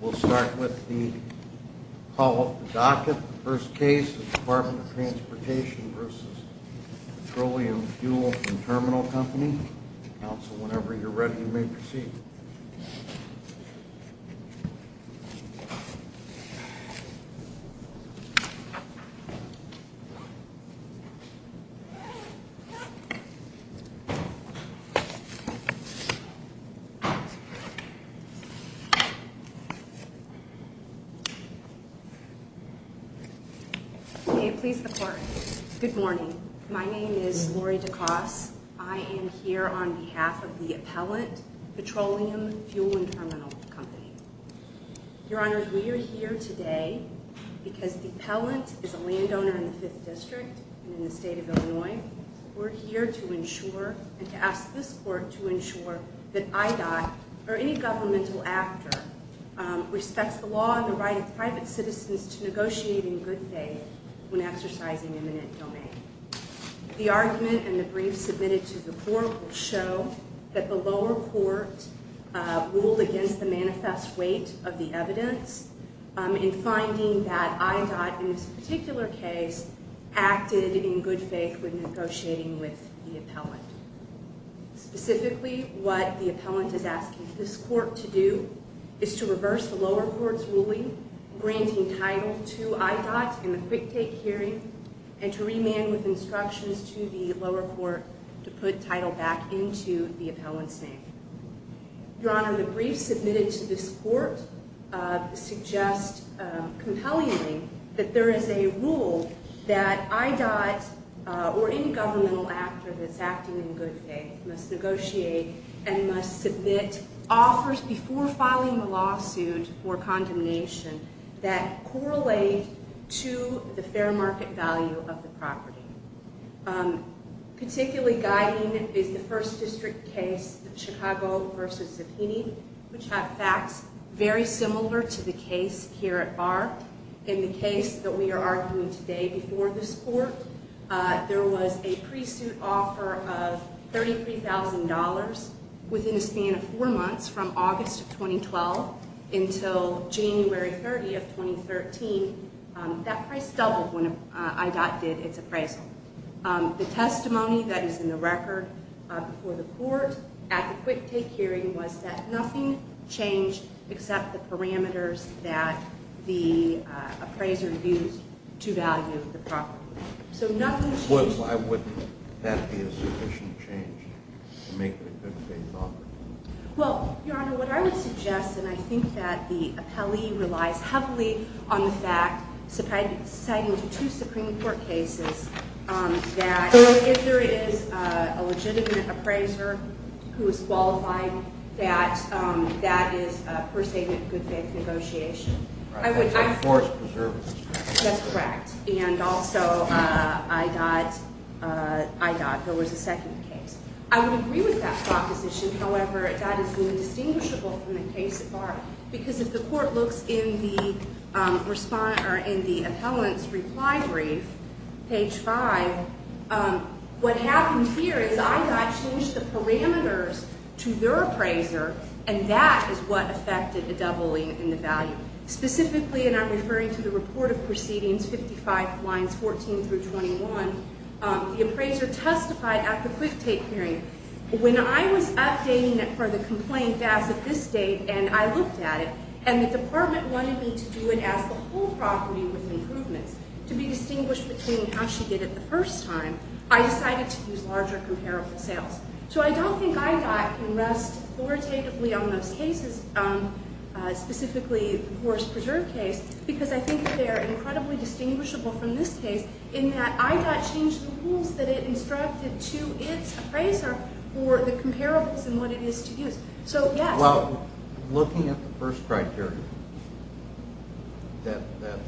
We'll start with the call of the docket. The first case is Department of Transportation v. Petroleum Fuel & Terminal Co. Counsel, whenever you're ready, you may proceed. May it please the Court, good morning. My name is Lori Dacos. I am here on behalf of the appellant, Petroleum Fuel & Terminal Co. Your Honor, we are here today because the appellant is a landowner in the 5th District in the state of Illinois. We're here to ensure and to ask this Court to ensure that IDOT or any governmental actor respects the law and the right of private citizens to negotiate in good faith when exercising eminent domain. The argument and the brief submitted to the Court will show that the lower court ruled against the manifest weight of the evidence in finding that IDOT in this particular case acted in good faith when negotiating with the appellant. Specifically, what the appellant is asking this Court to do is to reverse the lower court's ruling granting title to IDOT in the quick take hearing and to remand with instructions to the lower court to put title back into the appellant's name. Your Honor, the brief submitted to this Court suggests compellingly that there is a rule that IDOT or any governmental actor that's acting in good faith must negotiate and must submit offers before filing a lawsuit for condemnation that correlate to the fair market value of the property. Particularly guiding is the 1st District case, the Chicago v. Zepini, which had facts very similar to the case here at Bar. In the case that we are arguing today before this Court, there was a pre-suit offer of $33,000 within a span of 4 months from August 2012 until January 30, 2013. That price doubled when IDOT did its appraisal. The testimony that is in the record before the Court at the quick take hearing was that nothing changed except the parameters that the appraiser used to value the property. Why would that be a sufficient change to make the good faith offer? Well, Your Honor, what I would suggest, and I think that the appellee relies heavily on the fact, citing two Supreme Court cases, that if there is a legitimate appraiser who is qualified, that that is a per-segment good faith negotiation. That's a forced preservative. That's correct. And also IDOT, there was a second case. I would agree with that proposition, however, that is indistinguishable from the case at Bar because if the Court looks in the appellant's reply brief, page 5, what happened here is IDOT changed the parameters to their appraiser, and that is what affected the doubling in the value. Specifically, and I'm referring to the report of proceedings, 55 lines 14 through 21, the appraiser testified at the quick take hearing. When I was updating it for the complaint as of this date, and I looked at it, and the department wanted me to do it as the whole property with improvements to be distinguished between how she did it the first time, I decided to use larger comparable sales. So I don't think IDOT can rest authoritatively on those cases, specifically the forced preserve case, because I think they're incredibly distinguishable from this case in that IDOT changed the rules that it instructed to its appraiser for the comparables and what it is to use. So, yes. Well, looking at the first criteria that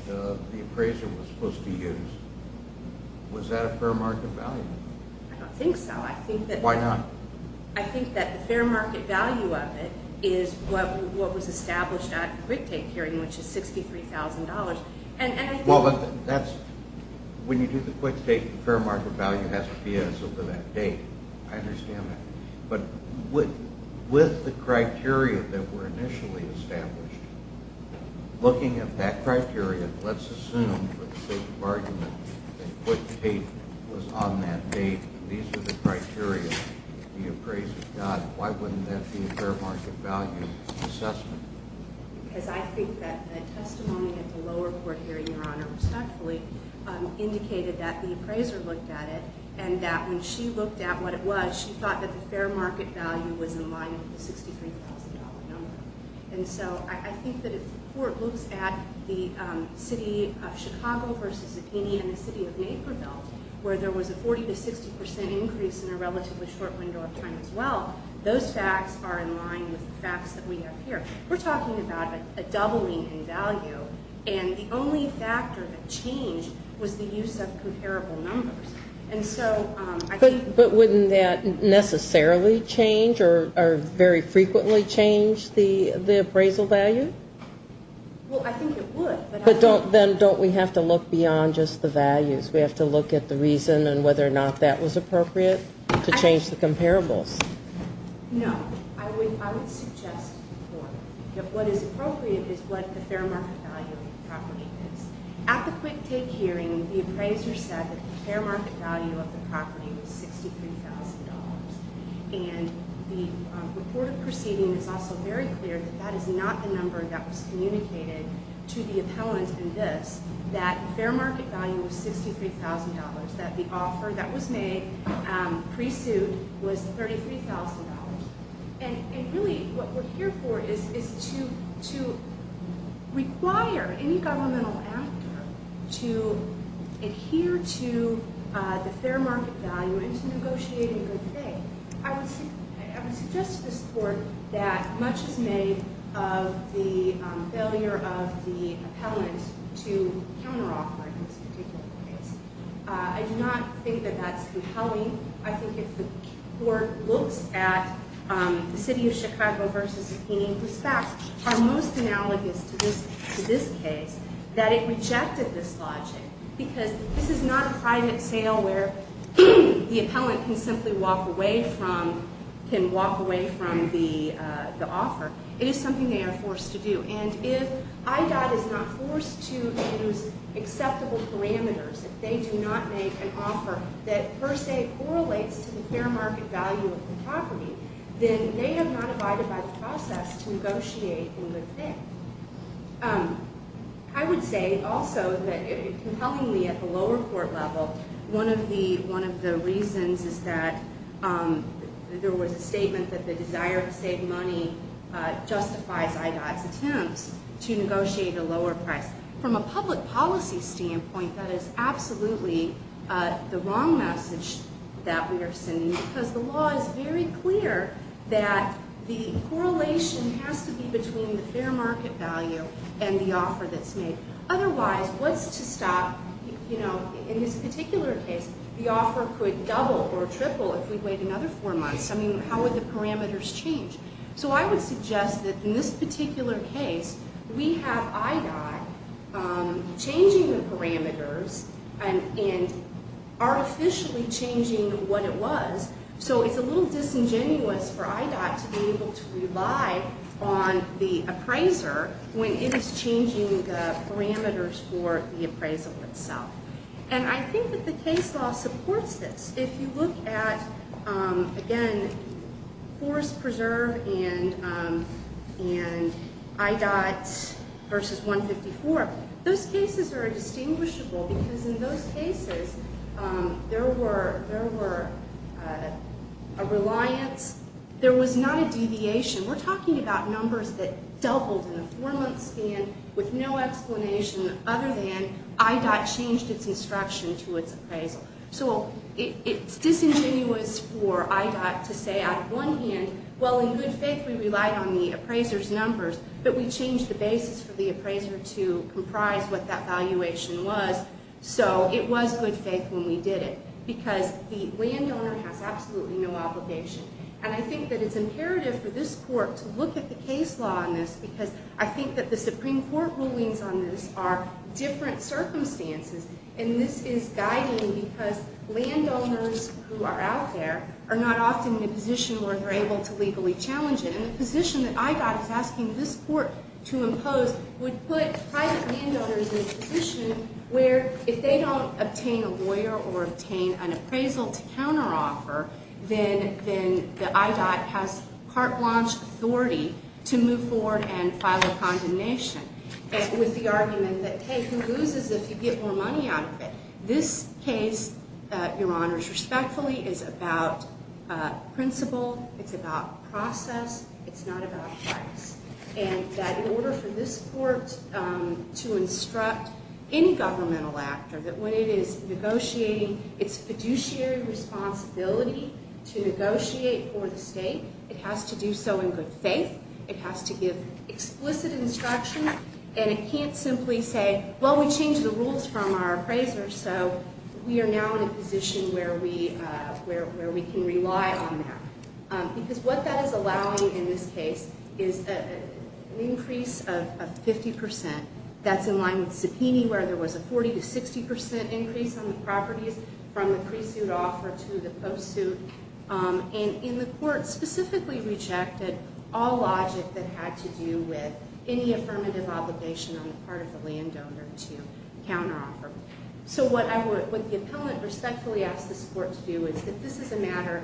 the appraiser was supposed to use, was that a fair market value? I don't think so. Why not? I think that the fair market value of it is what was established at the quick take hearing, which is $63,000. Well, when you do the quick take, the fair market value has to be as of that date. I understand that. But with the criteria that were initially established, looking at that criteria, let's assume for the sake of argument that quick take was on that date. These are the criteria that the appraiser got. Why wouldn't that be a fair market value assessment? Because I think that the testimony at the lower court hearing, Your Honor, respectfully, indicated that the appraiser looked at it and that when she looked at what it was, she thought that the fair market value was in line with the $63,000 number. And so I think that if the court looks at the city of Chicago versus Zipini and the city of Naperville, where there was a 40% to 60% increase in a relatively short window of time as well, those facts are in line with the facts that we have here. We're talking about a doubling in value. And the only factor that changed was the use of comparable numbers. But wouldn't that necessarily change or very frequently change the appraisal value? Well, I think it would. But then don't we have to look beyond just the values? We have to look at the reason and whether or not that was appropriate to change the comparables. No. I would suggest that what is appropriate is what the fair market value property is. At the quick take hearing, the appraiser said that the fair market value of the property was $63,000. And the report of proceeding is also very clear that that is not the number that was communicated to the appellant in this, that fair market value was $63,000, that the offer that was made pre-suit was $33,000. And really what we're here for is to require any governmental actor to adhere to the fair market value and to negotiate in good faith. I would suggest to this Court that much is made of the failure of the appellant to counteroffer in this particular case. I do not think that that's compelling. I think if the Court looks at the City of Chicago v. Keeney, whose facts are most analogous to this case, that it rejected this logic. Because this is not a private sale where the appellant can simply walk away from, can walk away from the offer. It is something they are forced to do. And if IDOT is not forced to use acceptable parameters, if they do not make an offer that per se correlates to the fair market value of the property, then they have not abided by the process to negotiate in good faith. I would say also that compellingly at the lower court level, one of the reasons is that there was a statement that the desire to save money justifies IDOT's attempt. To negotiate a lower price. From a public policy standpoint, that is absolutely the wrong message that we are sending. Because the law is very clear that the correlation has to be between the fair market value and the offer that's made. Otherwise, what's to stop, you know, in this particular case, the offer could double or triple if we wait another four months. I mean, how would the parameters change? So I would suggest that in this particular case, we have IDOT changing the parameters and artificially changing what it was. So it's a little disingenuous for IDOT to be able to rely on the appraiser when it is changing the parameters for the appraisal itself. And I think that the case law supports this. If you look at, again, Forest Preserve and IDOT versus 154, those cases are distinguishable because in those cases, there were a reliance. There was not a deviation. We're talking about numbers that doubled in a four-month span with no explanation other than IDOT changed its instruction to its appraisal. So it's disingenuous for IDOT to say, on one hand, well, in good faith, we relied on the appraiser's numbers. But we changed the basis for the appraiser to comprise what that valuation was. So it was good faith when we did it because the landowner has absolutely no obligation. And I think that it's imperative for this court to look at the case law on this because I think that the Supreme Court rulings on this are different circumstances. And this is guiding because landowners who are out there are not often in a position where they're able to legally challenge it. And the position that IDOT is asking this court to impose would put private landowners in a position where if they don't obtain a lawyer or obtain an appraisal to counteroffer, then the IDOT has carte blanche authority to move forward and file a condemnation with the argument that, hey, who loses if you get more money out of it? This case, Your Honors, respectfully is about principle. It's about process. It's not about price. And that in order for this court to instruct any governmental actor that when it is negotiating its fiduciary responsibility to negotiate for the state, it has to do so in good faith. It has to give explicit instructions. And it can't simply say, well, we changed the rules from our appraiser, so we are now in a position where we can rely on that. Because what that is allowing in this case is an increase of 50%. That's in line with subpoena where there was a 40% to 60% increase on the properties from the pre-suit offer to the post-suit. And the court specifically rejected all logic that had to do with any affirmative obligation on the part of the landowner to counteroffer. So what the appellant respectfully asks this court to do is that this is a matter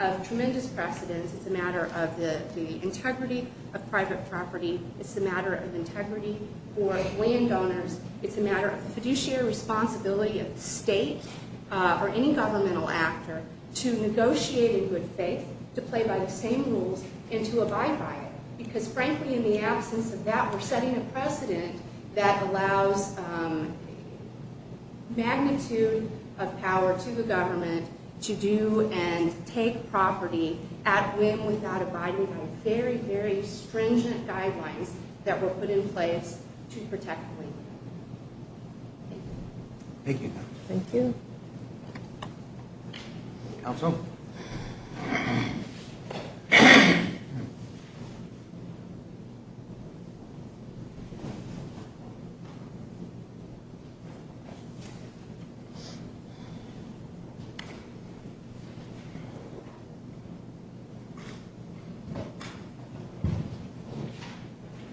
of tremendous precedence. It's a matter of the integrity of private property. It's a matter of integrity for landowners. It's a matter of fiduciary responsibility of the state or any governmental actor to negotiate in good faith, to play by the same rules, and to abide by it. Because frankly, in the absence of that, we're setting a precedent that allows magnitude of power to the government to do and take property at whim, without abiding by very, very stringent guidelines that were put in place to protect the landowner. Thank you. Thank you. Thank you. Counsel?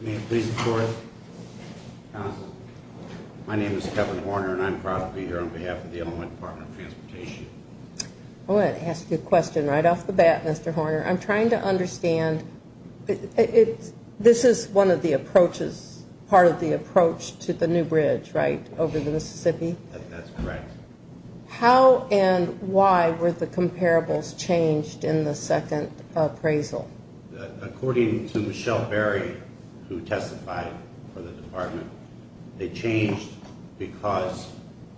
May it please the court. Counsel. My name is Kevin Horner, and I'm proud to be here on behalf of the Illinois Department of Transportation. I want to ask you a question right off the bat, Mr. Horner. I'm trying to understand. This is one of the approaches, part of the approach to the new bridge, right, over the Mississippi? That's correct. How and why were the comparables changed in the second appraisal? According to Michelle Berry, who testified for the department, they changed because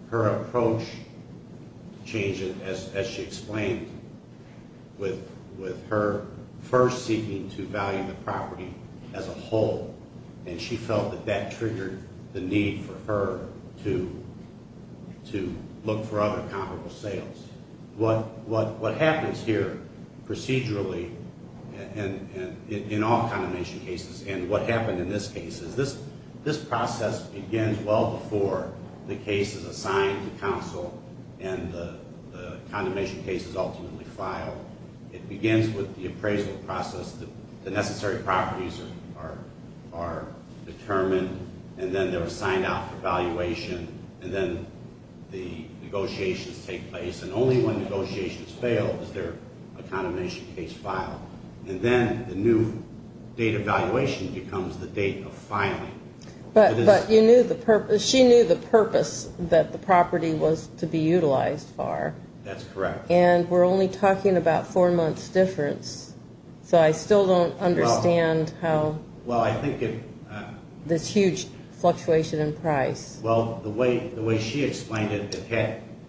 her approach changed, as she explained, with her first seeking to value the property as a whole, and she felt that that triggered the need for her to look for other comparable sales. What happens here procedurally in all condemnation cases, and what happened in this case, is this process begins well before the case is assigned to counsel and the condemnation case is ultimately filed. It begins with the appraisal process. The necessary properties are determined, and then they're assigned out for valuation, and then the negotiations take place, and only when negotiations fail is there a condemnation case filed, and then the new date of valuation becomes the date of filing. But you knew the purpose. She knew the purpose that the property was to be utilized for. That's correct. And we're only talking about four months' difference, so I still don't understand how this huge fluctuation in price. Well, the way she explained it,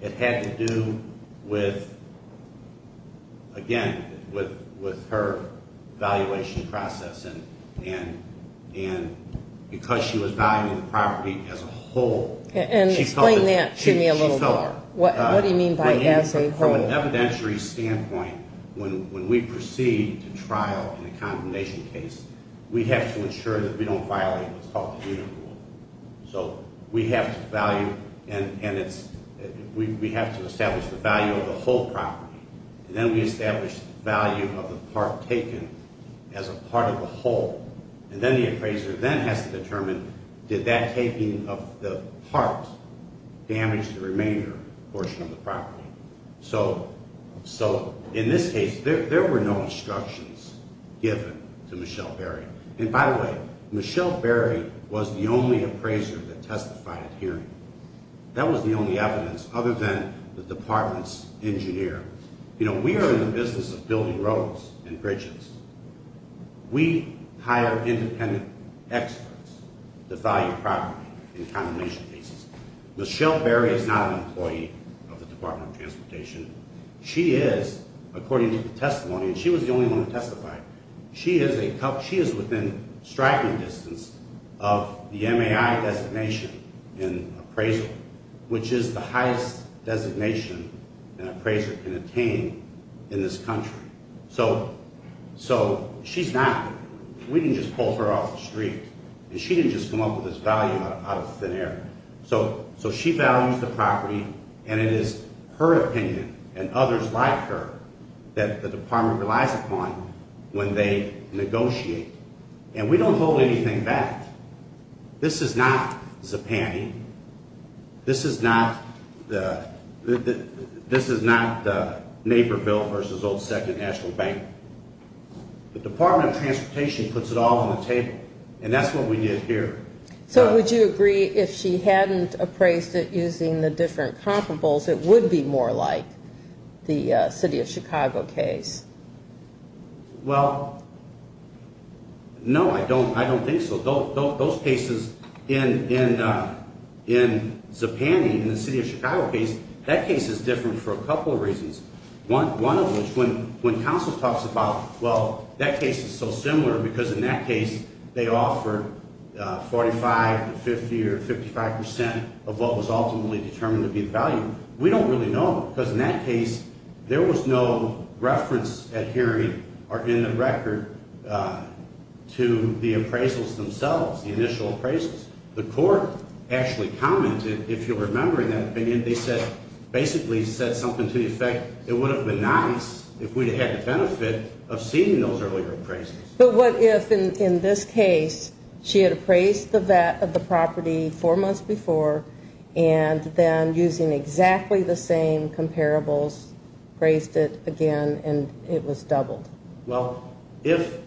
it had to do with, again, with her valuation process, and because she was valuing the property as a whole. And explain that to me a little more. What do you mean by as a whole? From an evidentiary standpoint, when we proceed to trial in a condemnation case, we have to ensure that we don't violate what's called the unit rule. So we have to value and it's – we have to establish the value of the whole property, and then we establish the value of the part taken as a part of the whole, and then the appraiser then has to determine did that taking of the part damage the remainder portion of the property. So in this case, there were no instructions given to Michelle Berry. And by the way, Michelle Berry was the only appraiser that testified at hearing. That was the only evidence other than the department's engineer. You know, we are in the business of building roads and bridges. We hire independent experts to value property in condemnation cases. Michelle Berry is not an employee of the Department of Transportation. She is, according to the testimony, and she was the only one to testify. She is a – she is within striking distance of the MAI designation in appraisal, which is the highest designation an appraiser can attain in this country. So she's not – we didn't just pull her off the street, and she didn't just come up with this value out of thin air. So she values the property, and it is her opinion and others like her that the department relies upon when they negotiate. And we don't hold anything back. This is not Zipante. This is not the Naperville v. Old Second National Bank. The Department of Transportation puts it all on the table, and that's what we did here. So would you agree if she hadn't appraised it using the different comparables, it would be more like the City of Chicago case? Well, no, I don't think so. Those cases in Zipante, in the City of Chicago case, that case is different for a couple of reasons, one of which, when counsel talks about, well, that case is so similar because in that case they offered 45 to 50 or 55 percent of what was ultimately determined to be the value. We don't really know because in that case there was no reference at hearing or in the record to the appraisals themselves, the initial appraisals. The court actually commented, if you'll remember in that opinion, they said, basically said something to the effect it would have been nice if we had the benefit of seeing those earlier appraisals. But what if in this case she had appraised the property four months before and then using exactly the same comparables appraised it again and it was doubled? Well, if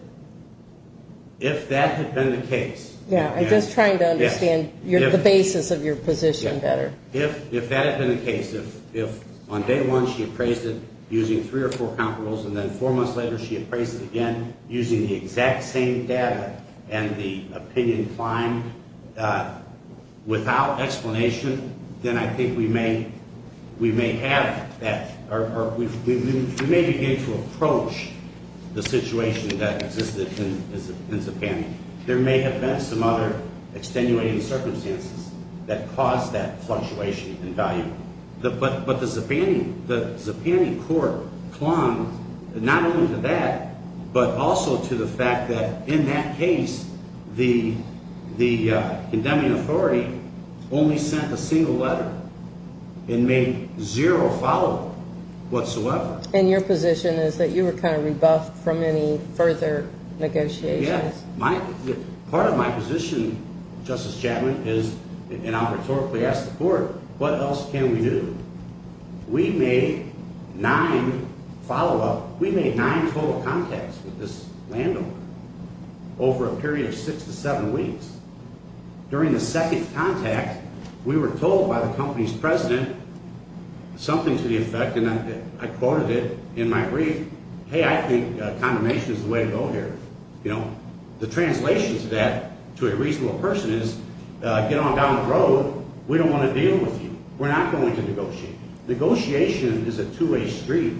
that had been the case. I'm just trying to understand the basis of your position better. If that had been the case, if on day one she appraised it using three or four comparables and then four months later she appraised it again using the exact same data and the opinion climbed without explanation, then I think we may have that or we may begin to approach the situation that existed in Zapani. There may have been some other extenuating circumstances that caused that fluctuation in value. But the Zapani court clung not only to that but also to the fact that in that case the condemning authority only sent a single letter and made zero follow-up whatsoever. And your position is that you were kind of rebuffed from any further negotiations? Part of my position, Justice Chapman, is, and I'll rhetorically ask the court, what else can we do? We made nine follow-up, we made nine total contacts with this landlord over a period of six to seven weeks. During the second contact, we were told by the company's president something to the effect, and I quoted it in my brief, hey, I think condemnation is the way to go here. The translation to that, to a reasonable person, is get on down the road, we don't want to deal with you. We're not going to negotiate. Negotiation is a two-way street.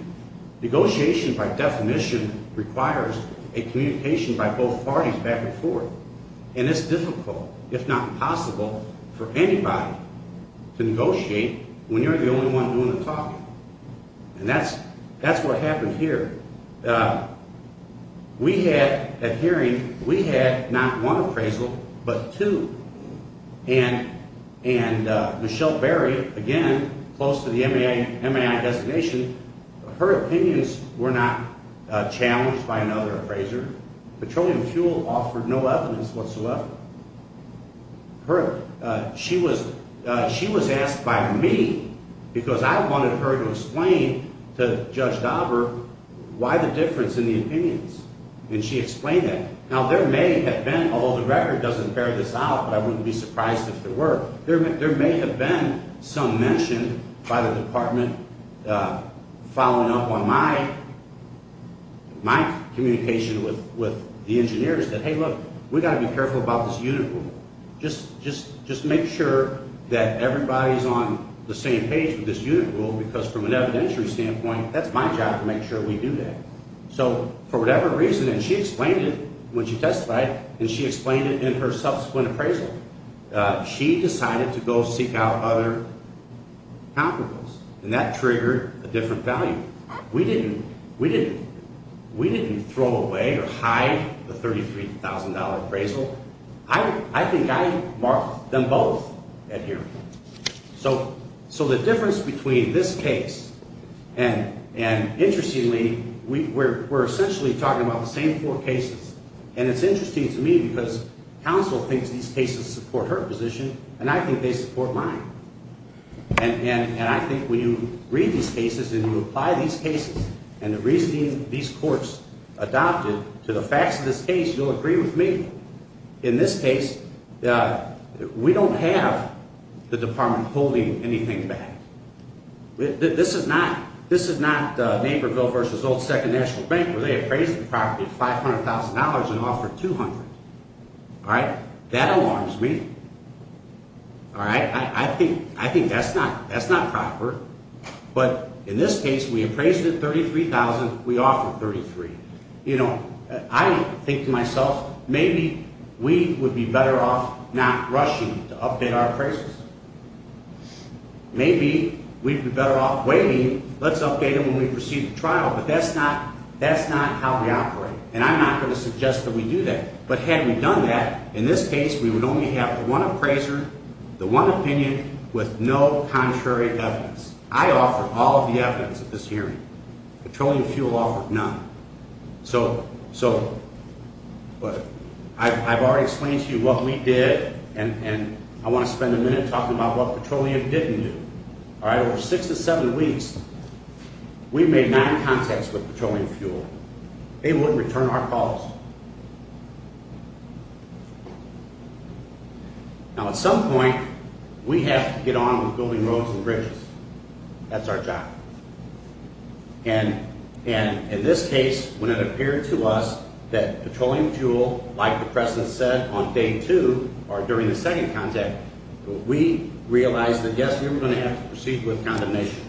Negotiation by definition requires a communication by both parties back and forth. And it's difficult, if not impossible, for anybody to negotiate when you're the only one doing the talking. And that's what happened here. We had a hearing. We had not one appraisal, but two. And Michelle Berry, again, close to the MAI designation, her opinions were not challenged by another appraiser. Petroleum fuel offered no evidence whatsoever. She was asked by me because I wanted her to explain to Judge Dauber why the difference in the opinions. And she explained that. Now, there may have been, although the record doesn't bear this out, but I wouldn't be surprised if there were, there may have been some mention by the department following up on my communication with the engineers that, hey, look, we've got to be careful about this unit rule. Just make sure that everybody's on the same page with this unit rule because from an evidentiary standpoint, that's my job to make sure we do that. So for whatever reason, and she explained it when she testified, and she explained it in her subsequent appraisal, she decided to go seek out other counterparts, and that triggered a different value. We didn't throw away or hide the $33,000 appraisal. I think I marked them both at hearing. So the difference between this case and, interestingly, we're essentially talking about the same four cases. And it's interesting to me because counsel thinks these cases support her position, and I think they support mine. And I think when you read these cases and you apply these cases and the reasoning these courts adopted to the facts of this case, you'll agree with me. In this case, we don't have the department holding anything back. This is not Naperville v. Old Second National Bank where they appraised the property at $500,000 and offered $200,000. All right? That alarms me. All right? I think that's not proper. But in this case, we appraised it at $33,000. We offered $33,000. You know, I think to myself, maybe we would be better off not rushing to update our appraisals. Maybe we'd be better off waiting. Let's update them when we proceed to trial. But that's not how we operate, and I'm not going to suggest that we do that. But had we done that, in this case, we would only have one appraiser, the one opinion, with no contrary evidence. I offered all of the evidence at this hearing. Petroleum fuel offered none. So I've already explained to you what we did, and I want to spend a minute talking about what petroleum didn't do. All right? Over six to seven weeks, we made nine contacts with petroleum fuel. They wouldn't return our calls. Now, at some point, we have to get on with building roads and bridges. That's our job. And in this case, when it appeared to us that petroleum fuel, like the President said, on day two or during the second contact, we realized that, yes, we were going to have to proceed with condemnation.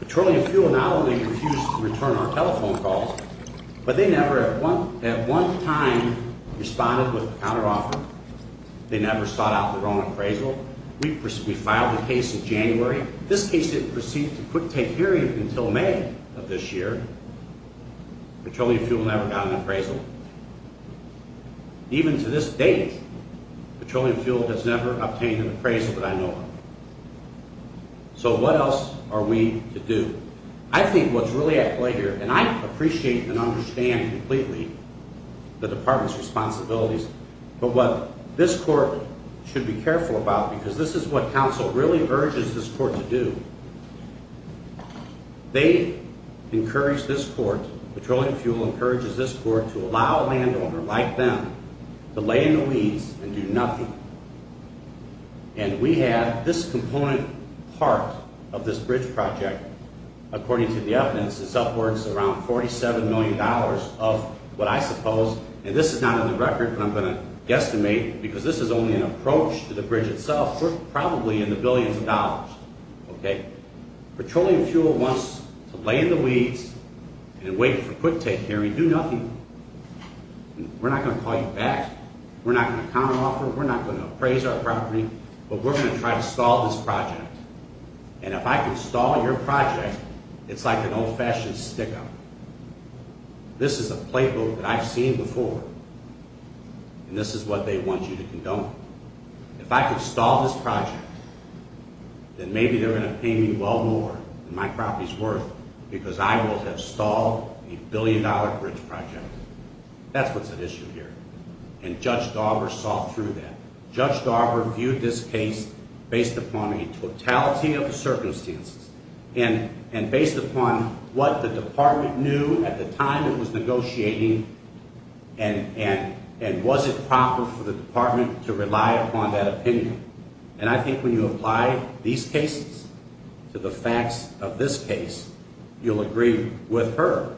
Petroleum fuel not only refused to return our telephone calls, but they never, at one time, responded with a counteroffer. They never sought out their own appraisal. We filed a case in January. This case didn't proceed to a quick take hearing until May of this year. Petroleum fuel never got an appraisal. Even to this date, petroleum fuel has never obtained an appraisal that I know of. So what else are we to do? I think what's really at play here, and I appreciate and understand completely the Department's responsibilities, but what this court should be careful about, because this is what counsel really urges this court to do, they encourage this court, petroleum fuel encourages this court, to allow a landowner like them to lay in the weeds and do nothing. And we have this component part of this bridge project, according to the evidence, is upwards of around $47 million of what I suppose, and this is not on the record, but I'm going to guesstimate, because this is only an approach to the bridge itself, we're probably in the billions of dollars. Petroleum fuel wants to lay in the weeds and wait for a quick take hearing, do nothing. We're not going to call you back, we're not going to counteroffer, we're not going to appraise our property, but we're going to try to stall this project. And if I can stall your project, it's like an old-fashioned stick-up. This is a playbook that I've seen before, and this is what they want you to condone. If I can stall this project, then maybe they're going to pay me well more than my property's worth, because I will have stalled the billion-dollar bridge project. That's what's at issue here, and Judge Darber saw through that. Judge Darber viewed this case based upon a totality of circumstances and based upon what the Department knew at the time it was negotiating, and was it proper for the Department to rely upon that opinion. And I think when you apply these cases to the facts of this case, you'll agree with her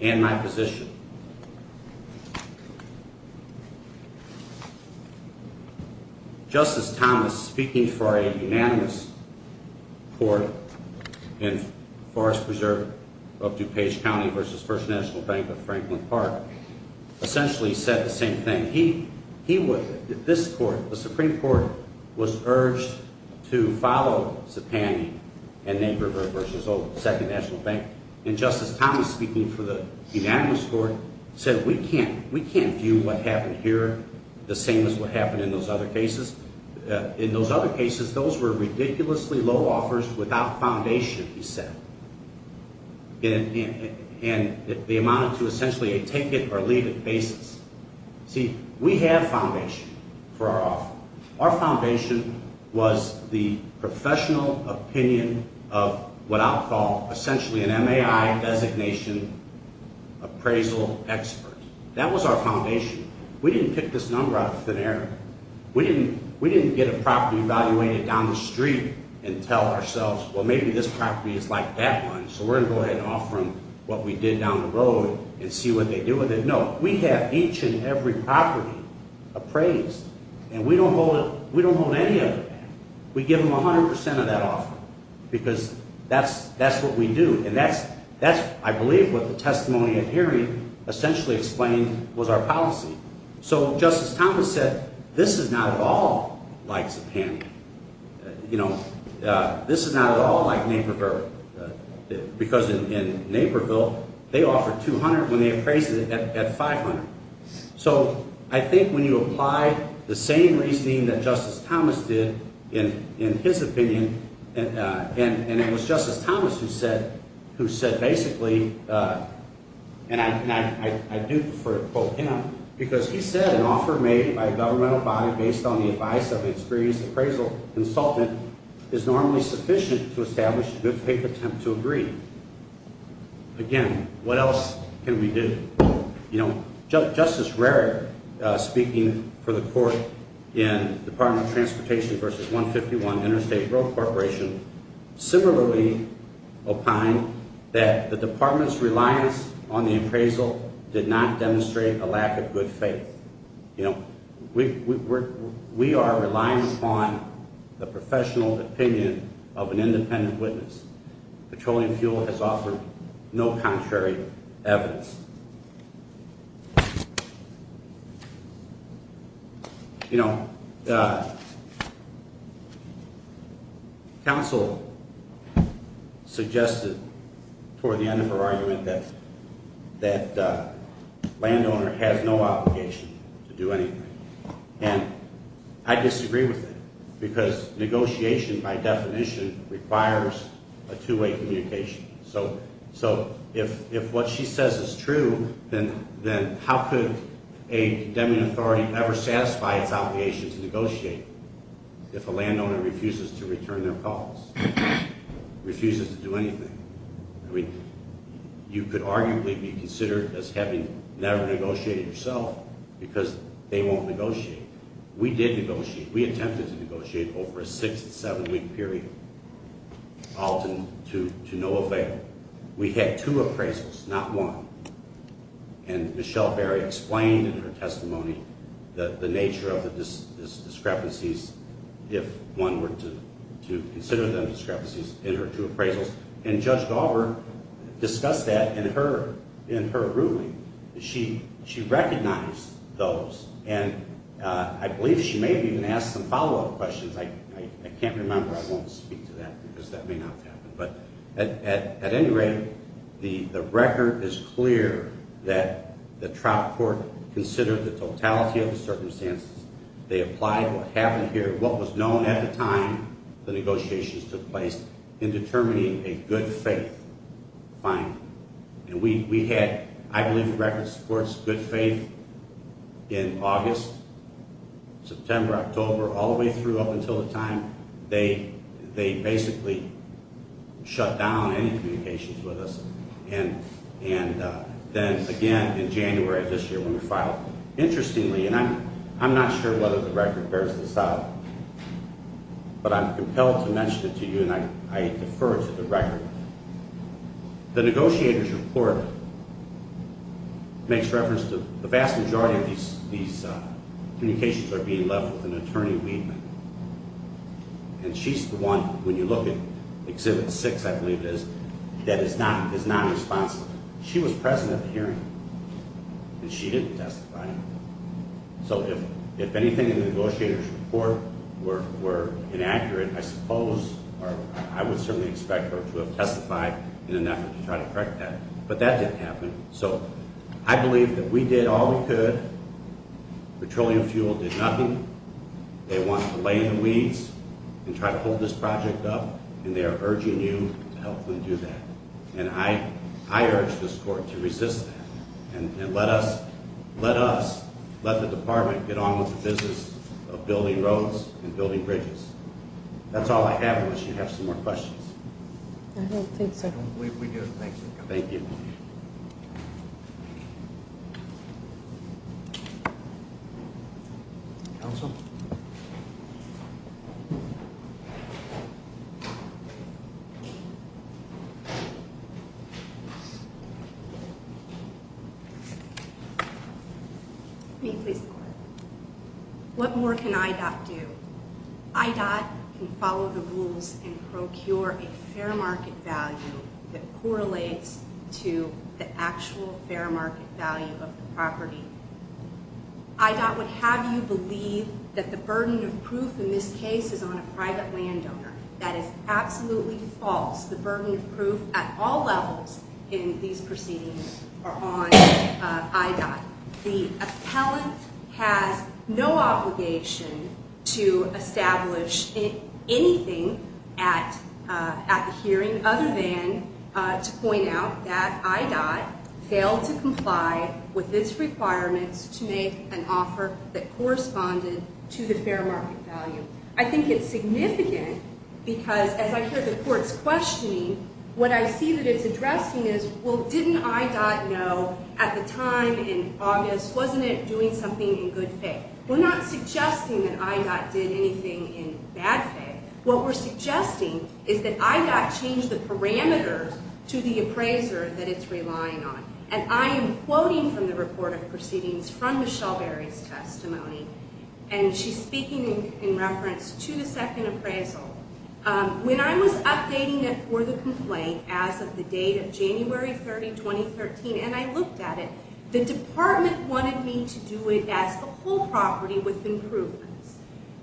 and my position. Justice Thomas, speaking for a unanimous court in Forest Preserve of DuPage County versus First National Bank of Franklin Park, essentially said the same thing. This court, the Supreme Court, was urged to follow Zipani and Naper versus Second National Bank. And Justice Thomas, speaking for the unanimous court, said we can't view what happened here the same as what happened in those other cases. In those other cases, those were ridiculously low offers without foundation, he said. And they amounted to essentially a take-it-or-leave-it basis. See, we have foundation for our offer. Our foundation was the professional opinion of what I'll call essentially an MAI designation appraisal expert. That was our foundation. We didn't pick this number out of thin air. We didn't get a property evaluated down the street and tell ourselves, well, maybe this property is like that one, so we're going to go ahead and offer them what we did down the road and see what they do with it. No, we have each and every property appraised, and we don't hold any of them. We give them 100 percent of that offer, because that's what we do. And that's, I believe, what the testimony at hearing essentially explained was our policy. So Justice Thomas said, this is not at all like Zipani. You know, this is not at all like Naperville. Because in Naperville, they offer 200 when they appraise it at 500. So I think when you apply the same reasoning that Justice Thomas did in his opinion, and it was Justice Thomas who said basically, and I do prefer to quote him, because he said an offer made by a governmental body based on the advice of an experienced appraisal consultant is normally sufficient to establish a good faith attempt to agree. Again, what else can we do? You know, Justice Rarick, speaking for the court in Department of Transportation v. 151 Interstate Road Corporation, similarly opined that the department's reliance on the appraisal did not demonstrate a lack of good faith. You know, we are relying upon the professional opinion of an independent witness. Petroleum fuel has offered no contrary evidence. You know, counsel suggested toward the end of her argument that landowner has no obligation to do anything. And I disagree with that because negotiation, by definition, requires a two-way communication. So if what she says is true, then how could a condemning authority ever satisfy its obligation to negotiate if a landowner refuses to return their cause, refuses to do anything? I mean, you could arguably be considered as having never negotiated yourself because they won't negotiate. We did negotiate. We attempted to negotiate over a six- to seven-week period, all to no avail. We had two appraisals, not one. And Michelle Berry explained in her testimony the nature of the discrepancies, if one were to consider them discrepancies, in her two appraisals. And Judge Dauber discussed that in her ruling. She recognized those. And I believe she may have even asked some follow-up questions. I can't remember. I won't speak to that because that may not have happened. But at any rate, the record is clear that the trial court considered the totality of the circumstances. They applied what happened here, what was known at the time the negotiations took place, in determining a good faith finding. And we had, I believe the record supports good faith in August, September, October, all the way through up until the time they basically shut down any communications with us. And then again in January of this year when we filed. Interestingly, and I'm not sure whether the record bears this out, but I'm compelled to mention it to you, and I defer to the record. The negotiator's report makes reference to the vast majority of these communications are being left with an attorney-weaveman. And she's the one, when you look at Exhibit 6, I believe it is, that is not responsible. She was present at the hearing, and she didn't testify. So if anything in the negotiator's report were inaccurate, I suppose, or I would certainly expect her to have testified in an effort to try to correct that. But that didn't happen. So I believe that we did all we could. Petroleum fuel did nothing. They wanted to lay in the weeds and try to hold this project up, and they are urging you to help them do that. And I urge this court to resist that and let us, let the department get on with the business of building roads and building bridges. That's all I have unless you have some more questions. I don't think so. We do. Thanks. Thank you. Counsel? What more can IDOT do? IDOT can follow the rules and procure a fair market value that correlates to the actual fair market value of the property. IDOT would have you believe that the burden of proof in this case is on a private landowner. That is absolutely false. The burden of proof at all levels in these proceedings are on IDOT. The appellant has no obligation to establish anything at the hearing other than to point out that IDOT failed to comply with its requirements to make an offer that corresponded to the fair market value. I think it's significant because as I hear the courts questioning, what I see that it's addressing is, well, didn't IDOT know at the time in August, wasn't it doing something in good faith? We're not suggesting that IDOT did anything in bad faith. What we're suggesting is that IDOT changed the parameters to the appraiser that it's relying on. And I am quoting from the report of proceedings from Michelle Berry's testimony, and she's speaking in reference to the second appraisal. When I was updating it for the complaint as of the date of January 30, 2013, and I looked at it, the department wanted me to do it as the whole property with improvements.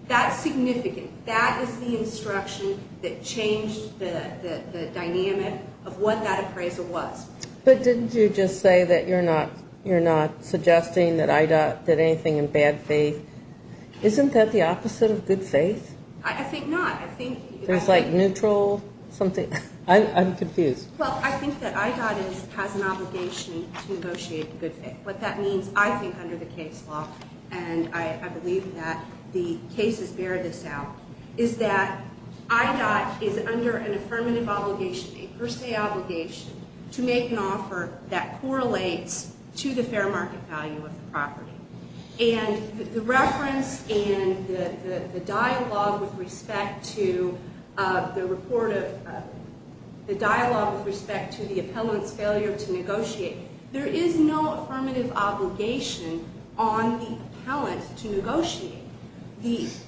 That's significant. That is the instruction that changed the dynamic of what that appraisal was. But didn't you just say that you're not suggesting that IDOT did anything in bad faith? Isn't that the opposite of good faith? I think not. There's like neutral something. I'm confused. Well, I think that IDOT has an obligation to negotiate in good faith. What that means, I think, under the case law, and I believe that the cases bear this out, is that IDOT is under an affirmative obligation, a per se obligation, to make an offer that correlates to the fair market value of the property. And the reference and the dialogue with respect to the report of the dialogue with respect to the appellant's failure to negotiate, there is no affirmative obligation on the appellant to negotiate these.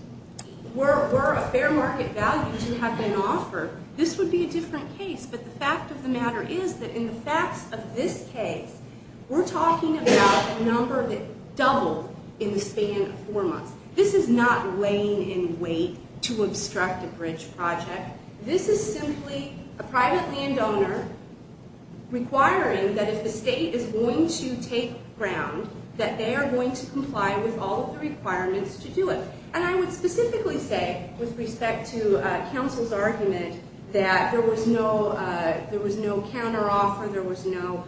Were a fair market value to have been offered, this would be a different case. But the fact of the matter is that in the facts of this case, we're talking about a number that doubled in the span of four months. This is not weighing in weight to obstruct a bridge project. This is simply a private landowner requiring that if the state is going to take ground, that they are going to comply with all of the requirements to do it. And I would specifically say, with respect to counsel's argument, that there was no counteroffer, there was no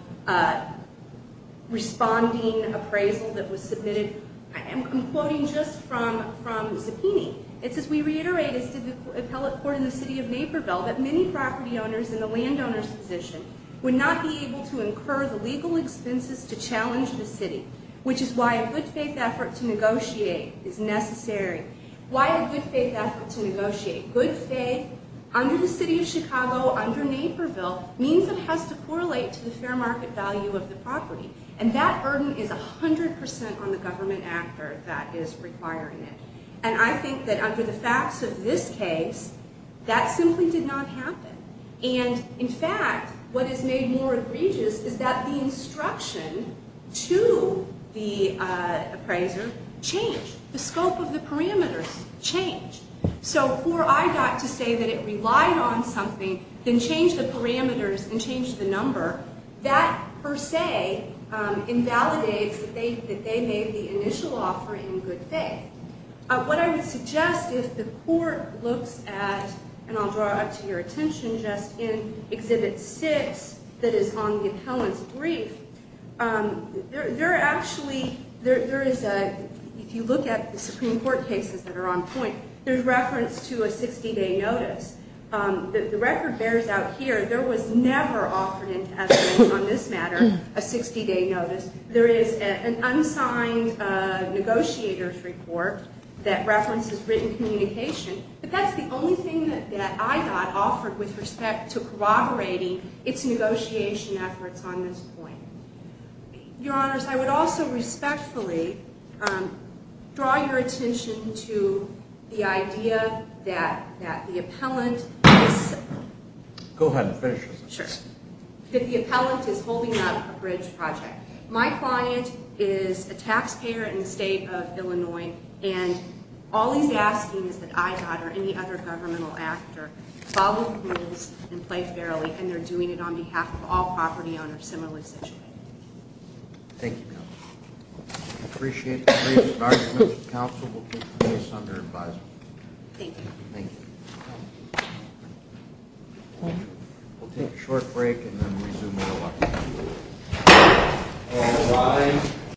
responding appraisal that was submitted. I'm quoting just from the subpoena. It says, we reiterate, as did the appellate court in the city of Naperville, that many property owners in the landowner's position would not be able to incur the legal expenses to challenge the city, which is why a good faith effort to negotiate is necessary. Why a good faith effort to negotiate? Good faith under the city of Chicago, under Naperville, means it has to correlate to the fair market value of the property. And that burden is 100% on the government actor that is requiring it. And I think that under the facts of this case, that simply did not happen. And, in fact, what is made more egregious is that the instruction to the appraiser changed. The scope of the parameters changed. So before I got to say that it relied on something, then change the parameters and change the number, that, per se, invalidates that they made the initial offer in good faith. What I would suggest is the court looks at, and I'll draw it up to your attention just in Exhibit 6, that is on the appellant's brief, there are actually, if you look at the Supreme Court cases that are on point, there's reference to a 60-day notice. The record bears out here, there was never offered, on this matter, a 60-day notice. There is an unsigned negotiator's report that references written communication. But that's the only thing that I got offered with respect to corroborating its negotiation efforts on this point. Your Honors, I would also respectfully draw your attention to the idea that the appellant is holding up a bridge project. My client is a taxpayer in the state of Illinois, and all he's asking is that I, Dodd, or any other governmental actor, follow the rules and play fairly, and they're doing it on behalf of all property owners similarly situated. Thank you, Counselor. I appreciate the briefs and arguments. Counsel, we'll take the case under advisement. Thank you. Thank you. We'll take a short break and then resume at 11. All rise.